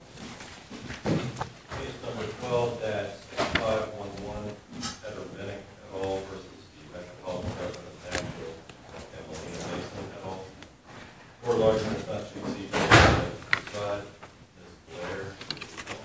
Case number 12-5511, Edward Minick v. Metro Gov of Nash and Mailena Mason. Court order is not to exceed the time limit prescribed in this letter. Thank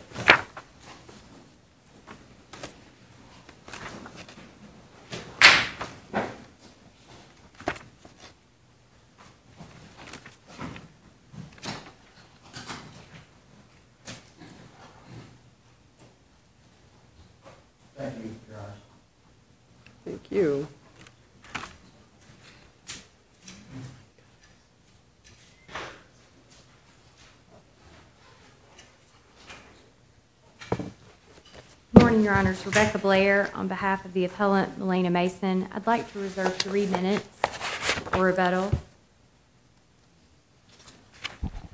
you, Your Honor. Thank you. Good morning, Your Honors. Rebecca Blair on behalf of the appellant, Mailena Mason. I'd like to reserve three minutes for rebuttal.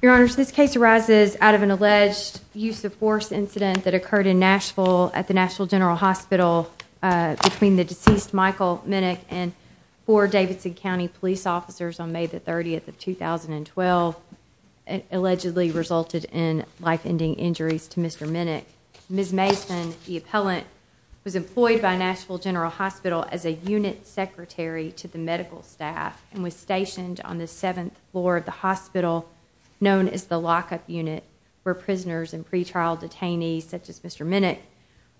Your Honors, this case arises out of an alleged use-of-force incident that occurred in Nashville at the Nashville General Hospital between the deceased Michael Minick and four Davidson County police officers on May 30, 2012. It allegedly resulted in life-ending injuries to Mr. Minick. Ms. Mason, the appellant, was employed by Nashville General Hospital as a unit secretary to the medical staff and was stationed on the seventh floor of the hospital known as the lock-up unit where prisoners and pretrial detainees such as Mr. Minick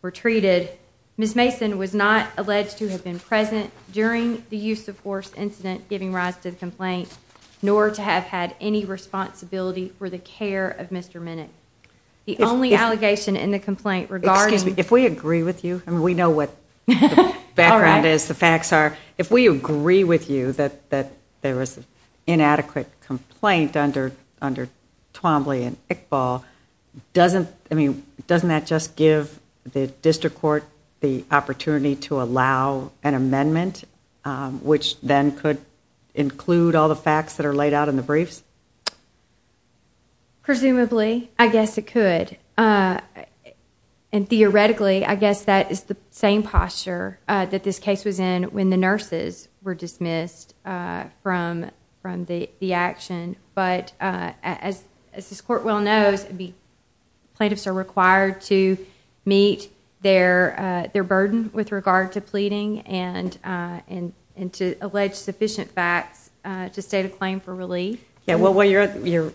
were treated. Ms. Mason was not alleged to have been present during the use-of-force incident giving rise to the complaint, nor to have had any responsibility for the care of Mr. Minick. The only allegation in the complaint regarding... If we agree with you that there was an inadequate complaint under Twombly and Iqbal, doesn't that just give the district court the opportunity to allow an amendment which then could include all the facts that are laid out in the briefs? Presumably, I guess it could. And theoretically, I guess that is the same posture that this case was in when the nurses were dismissed from the action. But as this court well knows, plaintiffs are required to meet their burden with regard to pleading and to allege sufficient facts to state a claim for relief. Well, your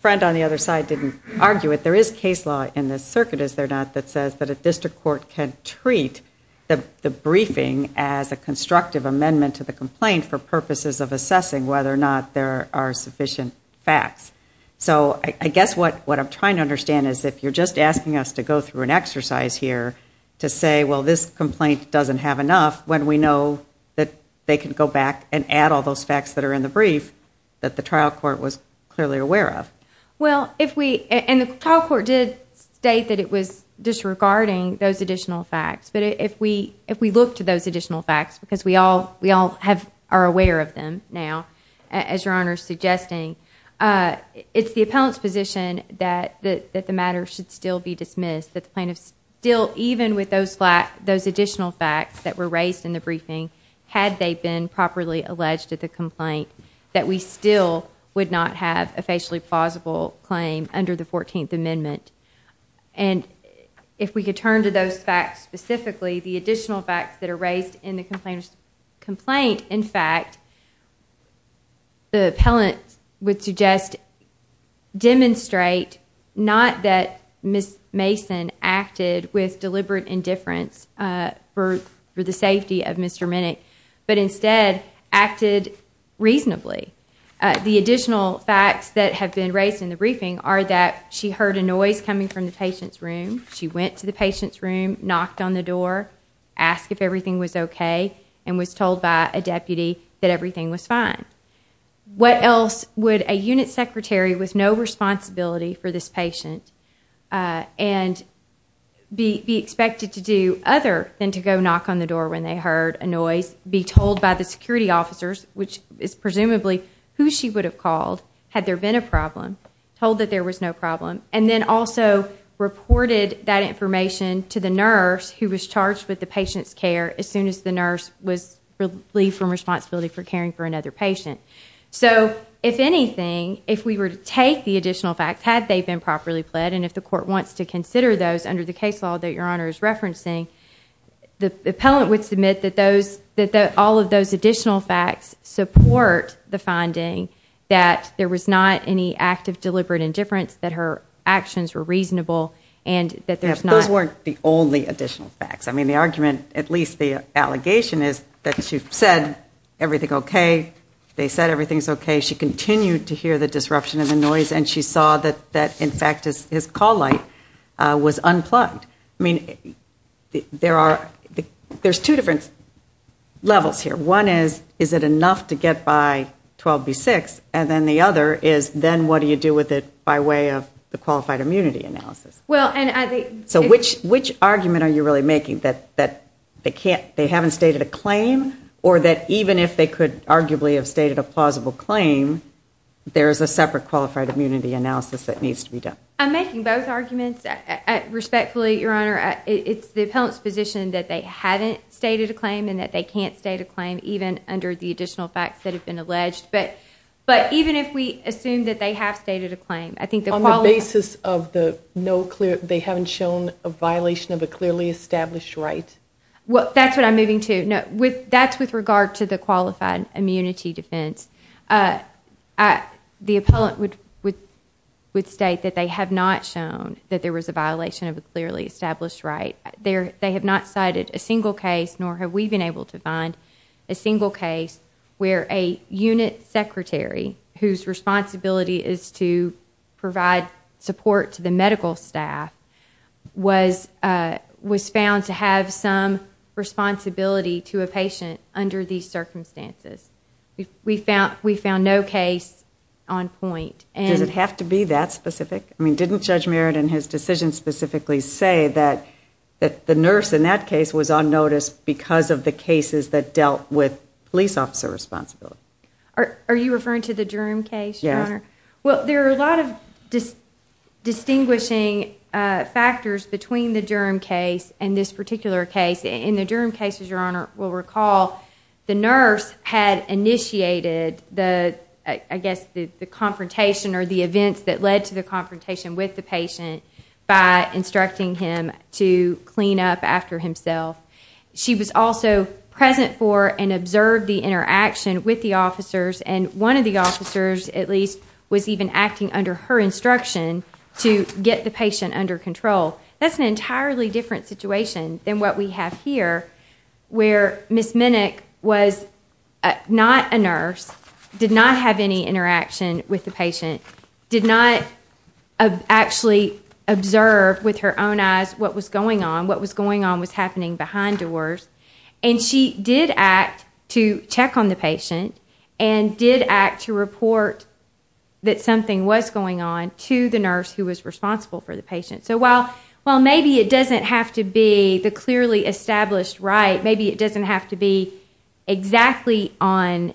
friend on the other side didn't argue it. There is case law in this circuit, is there not, that says that a district court can treat the briefing as a constructive amendment to the complaint for purposes of assessing whether or not there are sufficient facts. So I guess what I'm trying to understand is if you're just asking us to go through an exercise here to say, well, this complaint doesn't have enough, when we know that they can go back and add all those facts that are in the brief that the trial court was clearly aware of. Well, if we, and the trial court did state that it was disregarding those additional facts, but if we look to those additional facts, because we all are aware of them now, as your Honor is suggesting, it's the appellant's position that the matter should still be dismissed, that the plaintiffs still, even with those additional facts that were raised in the briefing, had they been properly alleged at the complaint, that we still would not have a facially plausible claim under the 14th Amendment. And if we could turn to those facts specifically, the additional facts that are raised in the complainant's complaint, in fact, the appellant would suggest demonstrate not that Ms. Mason acted with deliberate indifference for the safety of Mr. Minnick, but instead acted reasonably. The additional facts that have been raised in the briefing are that she heard a noise coming from the patient's room, she went to the patient's room, knocked on the door, asked if everything was okay, and was told by a deputy that everything was fine. What else would a unit secretary with no responsibility for this patient be expected to do other than to go knock on the door when they heard a noise, be told by the security officers, which is presumably who she would have called had there been a problem, told that there was no problem, and then also reported that information to the nurse who was charged with the patient's care as soon as the nurse was relieved from responsibility for caring for another patient. So, if anything, if we were to take the additional facts, had they been properly pled, and if the court wants to consider those under the case law that Your Honor is referencing, the appellant would submit that all of those additional facts support the finding that there was not any act of deliberate indifference, that her actions were reasonable, and that there's not... The allegation is that she said everything okay, they said everything's okay, she continued to hear the disruption of the noise, and she saw that, in fact, his call light was unplugged. I mean, there's two different levels here. One is, is it enough to get by 12B6, and then the other is, then what do you do with it by way of the qualified immunity analysis? So which argument are you really making, that they haven't stated a claim, or that even if they could arguably have stated a plausible claim, there is a separate qualified immunity analysis that needs to be done? I'm making both arguments. Respectfully, Your Honor, it's the appellant's position that they haven't stated a claim and that they can't state a claim, even under the additional facts that have been alleged. But even if we assume that they have stated a claim, I think the quality... They haven't shown a violation of a clearly established right? Well, that's what I'm moving to. That's with regard to the qualified immunity defense. The appellant would state that they have not shown that there was a violation of a clearly established right. They have not cited a single case, nor have we been able to find a single case, where a unit secretary, whose responsibility is to provide support to the medical staff, was found to have some responsibility to a patient under these circumstances. We found no case on point. Does it have to be that specific? Didn't Judge Merritt in his decision specifically say that the nurse in that case was on notice because of the cases that dealt with police officer responsibility? Are you referring to the Durham case, Your Honor? Yes. Well, there are a lot of distinguishing factors between the Durham case and this particular case. In the Durham case, as Your Honor will recall, the nurse had initiated the, I guess, the confrontation or the events that led to the confrontation with the patient by instructing him to clean up after himself. She was also present for and observed the interaction with the officers, and one of the officers at least was even acting under her instruction to get the patient under control. That's an entirely different situation than what we have here, where Ms. Minnick was not a nurse, did not have any interaction with the patient, did not actually observe with her own eyes what was going on, what was going on was happening behind doors, and she did act to check on the patient and did act to report that something was going on to the nurse who was responsible for the patient. So while maybe it doesn't have to be the clearly established right, maybe it doesn't have to be exactly on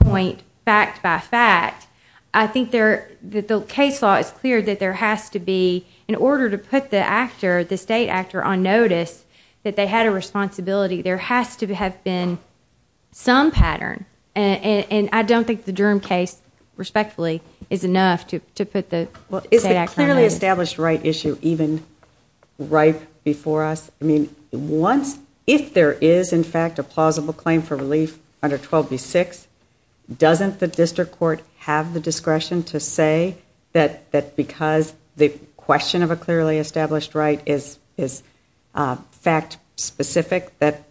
point fact by fact, I think the case law is clear that there has to be, in order to put the state actor on notice that they had a responsibility, there has to have been some pattern, and I don't think the Durham case, respectfully, is enough to put the state actor on notice. Is the clearly established right issue even right before us? I mean, if there is, in fact, a plausible claim for relief under 12B6, doesn't the district court have the discretion to say that because the question of a clearly established right is fact specific, that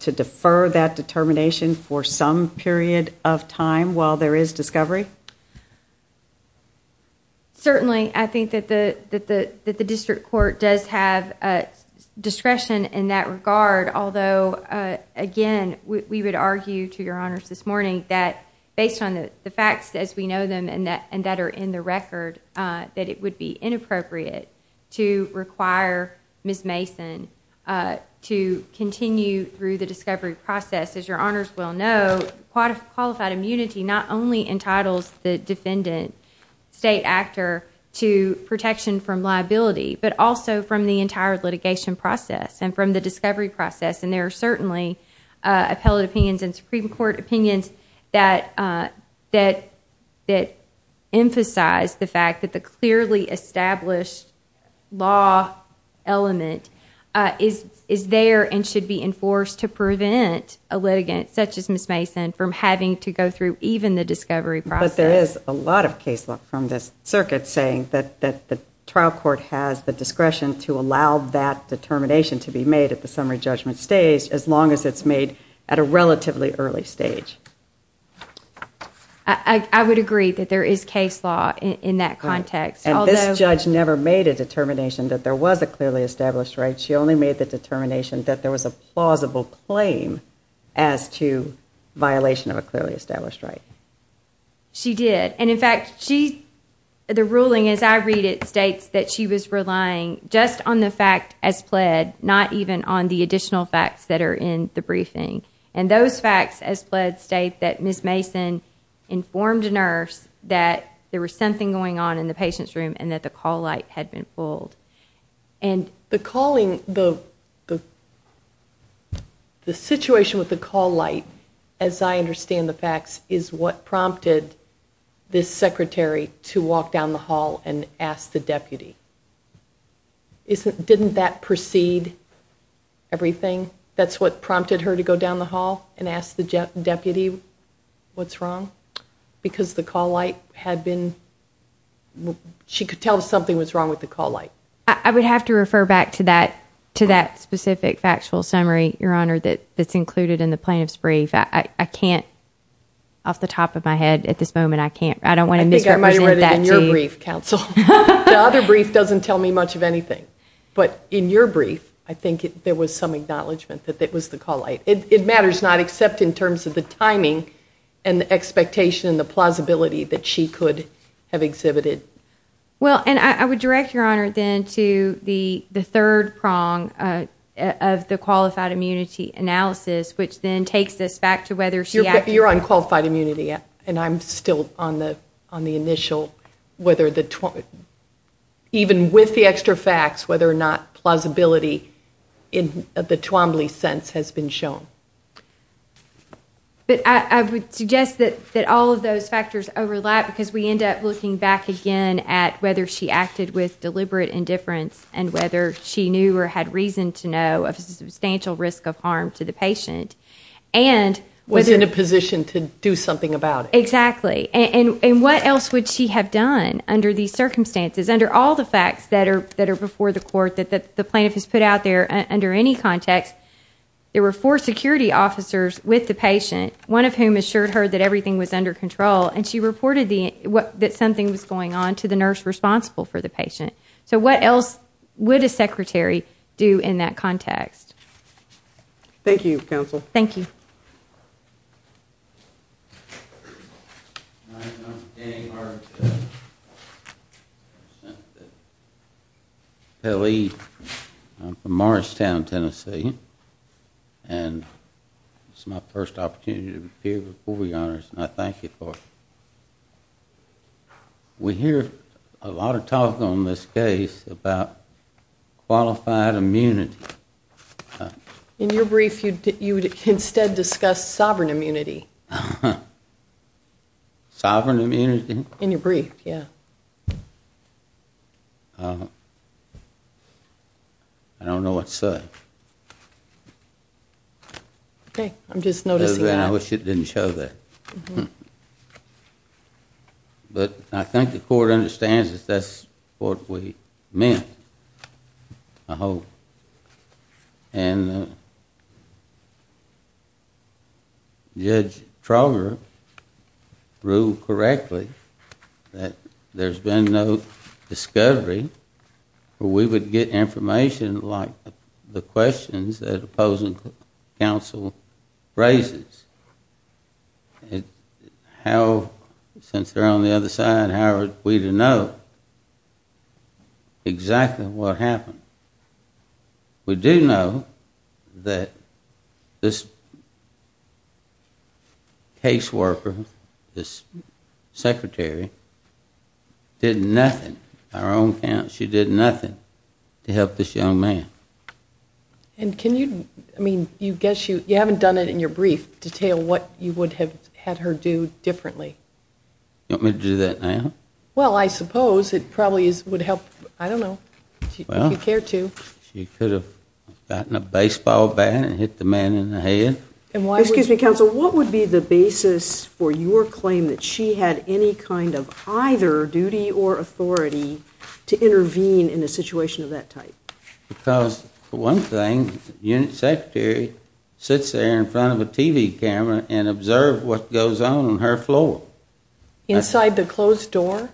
to defer that determination for some period of time while there is discovery? Certainly, I think that the district court does have discretion in that regard, although, again, we would argue to your honors this morning that based on the facts as we know them and that are in the record, that it would be inappropriate to require Ms. Mason to continue through the discovery process. As your honors will know, qualified immunity not only entitles the defendant, state actor, to protection from liability, but also from the entire litigation process and from the discovery process, and there are certainly appellate opinions and Supreme Court opinions that emphasize the fact that the clearly established law element is there and should be enforced to prevent a litigant such as Ms. Mason from having to go through even the discovery process. But there is a lot of case law from this circuit saying that the trial court has the discretion to allow that determination to be made at the summary judgment stage as long as it's made at a relatively early stage. I would agree that there is case law in that context. And this judge never made a determination that there was a clearly established right. She only made the determination that there was a plausible claim as to violation of a clearly established right. She did. And, in fact, the ruling as I read it states that she was relying just on the fact as pled, not even on the additional facts that are in the briefing. And those facts as pled state that Ms. Mason informed a nurse that there was something going on in the patient's room and that the call light had been pulled. And the situation with the call light, as I understand the facts, is what prompted this secretary to walk down the hall and ask the deputy. Didn't that precede everything? That's what prompted her to go down the hall and ask the deputy what's wrong? Because the call light had been, she could tell something was wrong with the call light. I would have to refer back to that specific factual summary, Your Honor, that's included in the plaintiff's brief. I can't, off the top of my head at this moment, I can't. I don't want to misrepresent that to you. I think I might have read it in your brief, counsel. The other brief doesn't tell me much of anything. But in your brief, I think there was some acknowledgment that it was the call light. It matters not, except in terms of the timing and the expectation and the plausibility that she could have exhibited. Well, and I would direct, Your Honor, then to the third prong of the qualified immunity analysis, which then takes us back to whether she acted. You're on qualified immunity, and I'm still on the initial, even with the extra facts, whether or not plausibility in the Twombly sense has been shown. But I would suggest that all of those factors overlap, because we end up looking back again at whether she acted with deliberate indifference and whether she knew or had reason to know of a substantial risk of harm to the patient. Was in a position to do something about it. Exactly. And what else would she have done under these circumstances, under all the facts that are before the court that the plaintiff has put out there under any context? There were four security officers with the patient, one of whom assured her that everything was under control, and she reported that something was going on to the nurse responsible for the patient. So what else would a secretary do in that context? Thank you, counsel. Thank you. My name is Dan Hart. I'm from Morristown, Tennessee, and this is my first opportunity to appear before you, Your Honors, and I thank you for it. We hear a lot of talk on this case about qualified immunity. In your brief, you instead discussed sovereign immunity. Sovereign immunity? In your brief, yeah. I don't know what's said. Okay, I'm just noticing that. I wish it didn't show that. But I think the court understands that that's what we meant, I hope. And Judge Trauger ruled correctly that there's been no discovery where we would get information like the questions that opposing counsel raises. How, since they're on the other side, how are we to know exactly what happened? We do know that this caseworker, this secretary, did nothing. On her own account, she did nothing to help this young man. And can you, I mean, you haven't done it in your brief, detail what you would have had her do differently. You want me to do that now? Well, I suppose it probably would help, I don't know, if you care to. She could have gotten a baseball bat and hit the man in the head. Excuse me, counsel, what would be the basis for your claim that she had any kind of either duty or authority to intervene in a situation of that type? Because one thing, the unit secretary sits there in front of a TV camera and observes what goes on on her floor. Inside the closed door?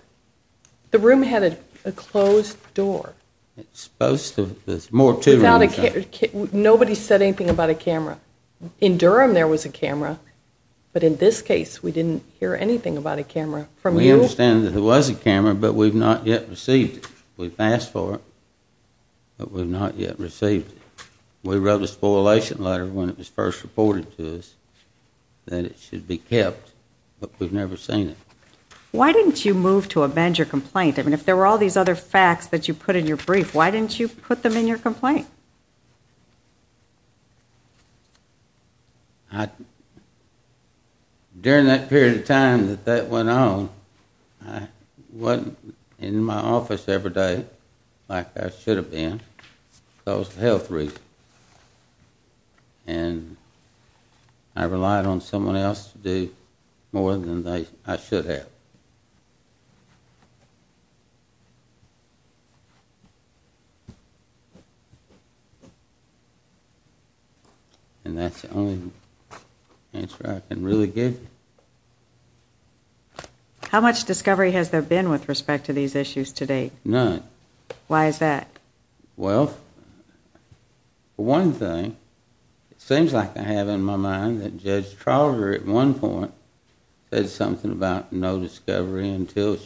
The room had a closed door. It's supposed to, there's more to it. Without a camera, nobody said anything about a camera. In Durham there was a camera, but in this case we didn't hear anything about a camera. We understand that there was a camera, but we've not yet received it. We've asked for it, but we've not yet received it. We wrote a spoliation letter when it was first reported to us that it should be kept, but we've never seen it. Why didn't you move to amend your complaint? I mean, if there were all these other facts that you put in your brief, why didn't you put them in your complaint? I, during that period of time that that went on, I wasn't in my office every day like I should have been because of health reasons, and I relied on someone else to do more than I should have. And that's the only answer I can really give you. How much discovery has there been with respect to these issues to date? None. Why is that? Well, for one thing, it seems like I have in my mind that Judge Trauger at one point said something about no discovery. No discovery until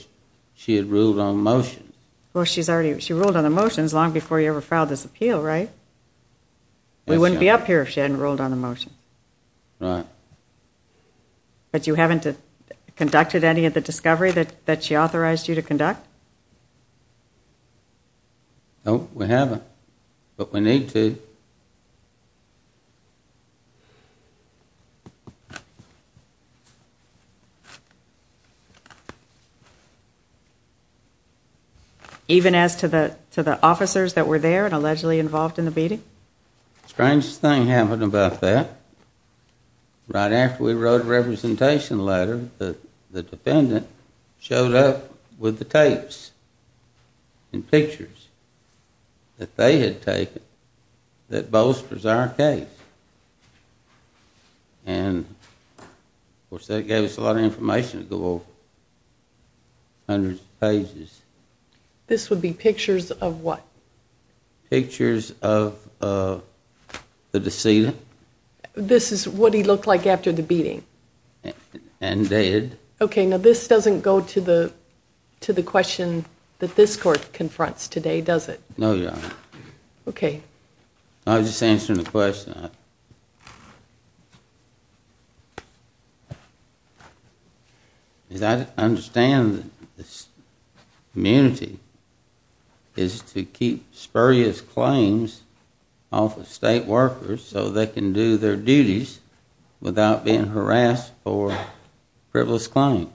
she had ruled on motion. Well, she ruled on the motions long before you ever filed this appeal, right? We wouldn't be up here if she hadn't ruled on the motion. Right. But you haven't conducted any of the discovery that she authorized you to conduct? No, we haven't. But we need to. Even as to the officers that were there and allegedly involved in the beating? The strangest thing happened about that. Right after we wrote a representation letter, the defendant showed up with the tapes and pictures that they had taken that bolsters our case. And, of course, that gave us a lot of information. It would go over hundreds of pages. This would be pictures of what? Pictures of the decedent. This is what he looked like after the beating? And did. Okay, now this doesn't go to the question that this court confronts today, does it? No, Your Honor. Okay. I was just answering the question. As I understand it, immunity is to keep spurious claims off of state workers so they can do their duties without being harassed for frivolous claims.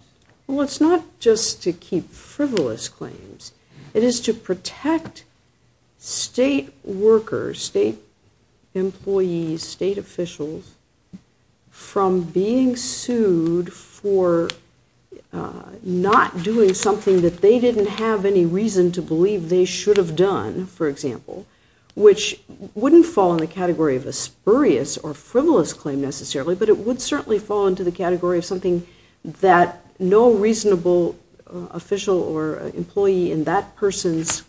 Well, it's not just to keep frivolous claims. It is to protect state workers, state employees, state officials from being sued for not doing something that they didn't have any reason to believe they should have done, for example, which wouldn't fall in the category of a spurious or frivolous claim necessarily, but it would certainly fall into the category of something that no reasonable official or employee in that person's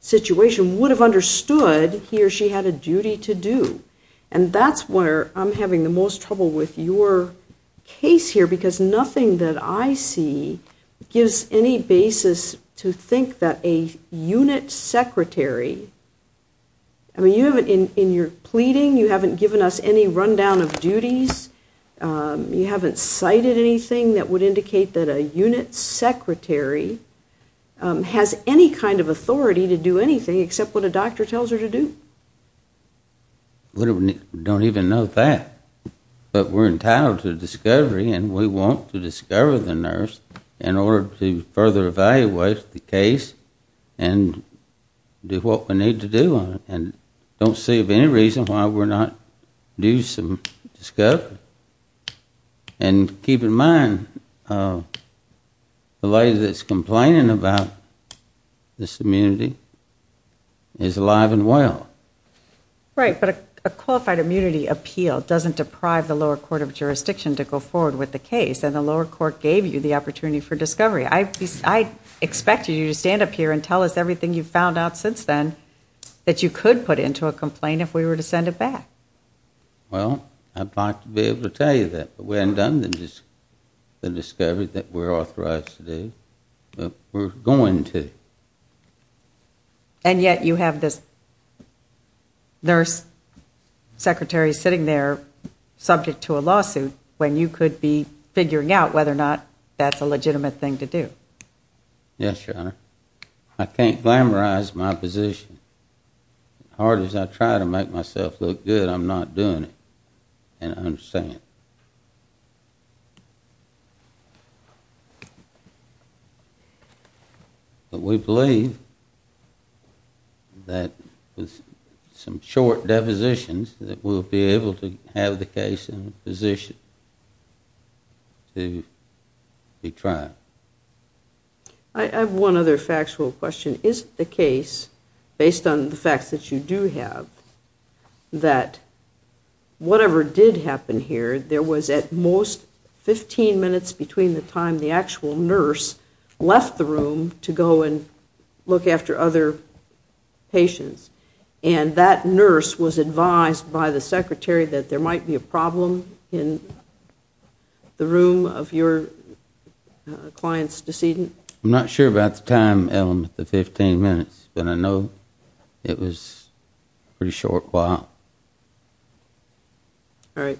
situation would have understood he or she had a duty to do. And that's where I'm having the most trouble with your case here because nothing that I see gives any basis to think that a unit secretary, I mean, in your pleading you haven't given us any rundown of duties. You haven't cited anything that would indicate that a unit secretary has any kind of authority to do anything except what a doctor tells her to do. We don't even know that. But we're entitled to discovery and we want to discover the nurse in order to further evaluate the case and do what we need to do and don't see of any reason why we're not doing some discovery. And keep in mind, the lady that's complaining about this immunity is alive and well. Right, but a qualified immunity appeal doesn't deprive the lower court of jurisdiction to go forward with the case, and the lower court gave you the opportunity for discovery. I expected you to stand up here and tell us everything you found out since then that you could put into a complaint if we were to send it back. Well, I'd like to be able to tell you that. But we haven't done the discovery that we're authorized to do. We're going to. And yet you have this nurse secretary sitting there subject to a lawsuit when you could be figuring out whether or not that's a legitimate thing to do. Yes, Your Honor. I can't glamorize my position. As hard as I try to make myself look good, I'm not doing it. And I understand. But we believe that with some short depositions that we'll be able to have the case in a position to be tried. I have one other factual question. Is it the case, based on the facts that you do have, that whatever did happen here, there was at most 15 minutes between the time the actual nurse left the room to go and look after other patients, and that nurse was advised by the secretary that there might be a problem in the room of your client's decedent? I'm not sure about the time element, the 15 minutes, but I know it was a pretty short while. All right.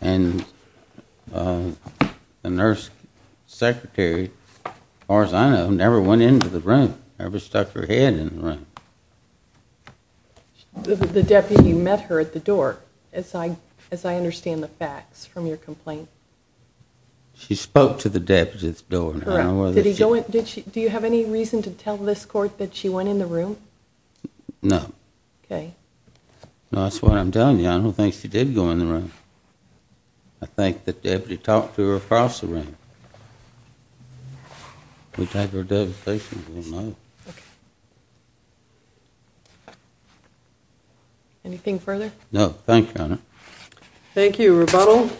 And the nurse secretary, as far as I know, never went into the room, never stuck her head in the room. The deputy met her at the door, as I understand the facts from your complaint. She spoke to the deputy at the door. Do you have any reason to tell this court that she went in the room? No. Okay. No, that's what I'm telling you. I don't think she did go in the room. I think the deputy talked to her across the room. We talked to her at the other station. Anything further? No. Thank you, Your Honor. Thank you. Any further rebuttal?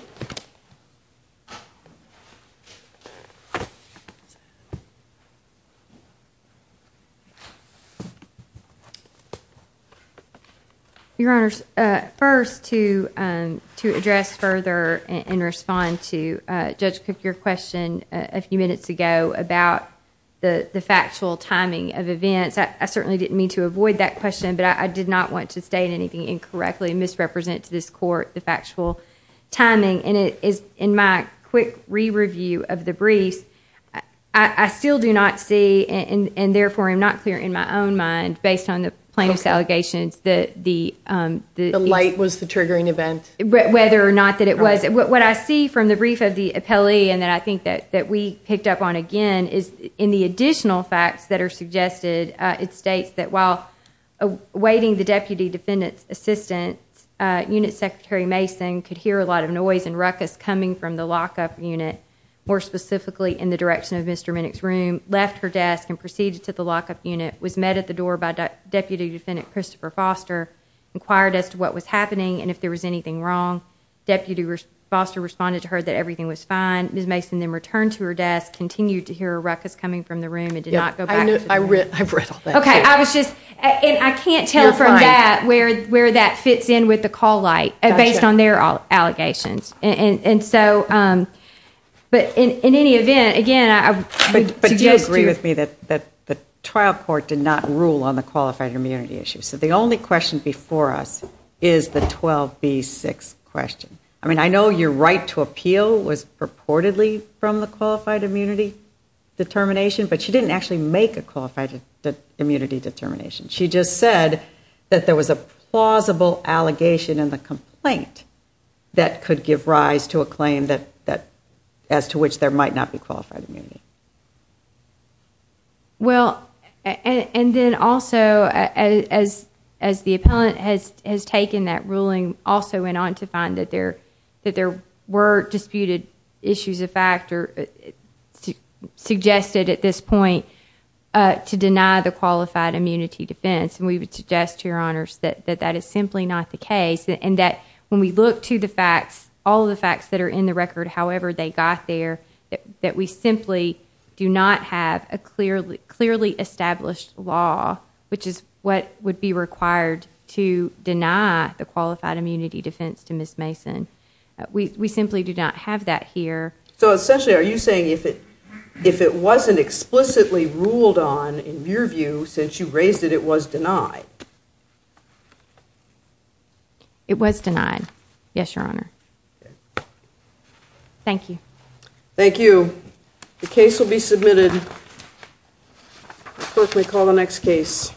Your Honor, first, to address further and respond to Judge Cook, your question a few minutes ago about the factual timing of events, I certainly didn't mean to avoid that question, but I did not want to state anything incorrectly, misrepresent to this court the factual timing. In my quick re-review of the briefs, I still do not see, and therefore am not clear in my own mind, based on the plaintiff's allegations that the... The light was the triggering event. Whether or not that it was. What I see from the brief of the appellee, and that I think that we picked up on again, is in the additional facts that are suggested, it states that while awaiting the Deputy Defendant's assistance, Unit Secretary Mason could hear a lot of noise and ruckus coming from the lock-up unit, more specifically in the direction of Mr. Minnick's room, left her desk and proceeded to the lock-up unit, was met at the door by Deputy Defendant Christopher Foster, inquired as to what was happening and if there was anything wrong. Deputy Foster responded to her that everything was fine. Ms. Mason then returned to her desk, continued to hear a ruckus coming from the room, and did not go back to the room. I've read all that. Okay, I was just... And I can't tell from that where that fits in with the call light, based on their allegations. And so... But in any event, again... But do you agree with me that the trial court did not rule on the qualified immunity issue? So the only question before us is the 12B6 question. I mean, I know your right to appeal was purportedly from the qualified immunity determination, but she didn't actually make a qualified immunity determination. She just said that there was a plausible allegation in the complaint that could give rise to a claim as to which there might not be qualified immunity. Well, and then also, as the appellant has taken that ruling, also went on to find that there were disputed issues of fact suggested at this point to deny the qualified immunity defense. And we would suggest to your honors that that is simply not the case, and that when we look to the facts, all the facts that are in the record, however they got there, that we simply do not have a clearly established law, which is what would be required to deny the qualified immunity defense to Ms. Mason. We simply do not have that here. So essentially, are you saying if it wasn't explicitly ruled on, in your view, since you raised it, it was denied? It was denied, yes, your honor. Thank you. Thank you. The case will be submitted. Clerk, we'll call the next case.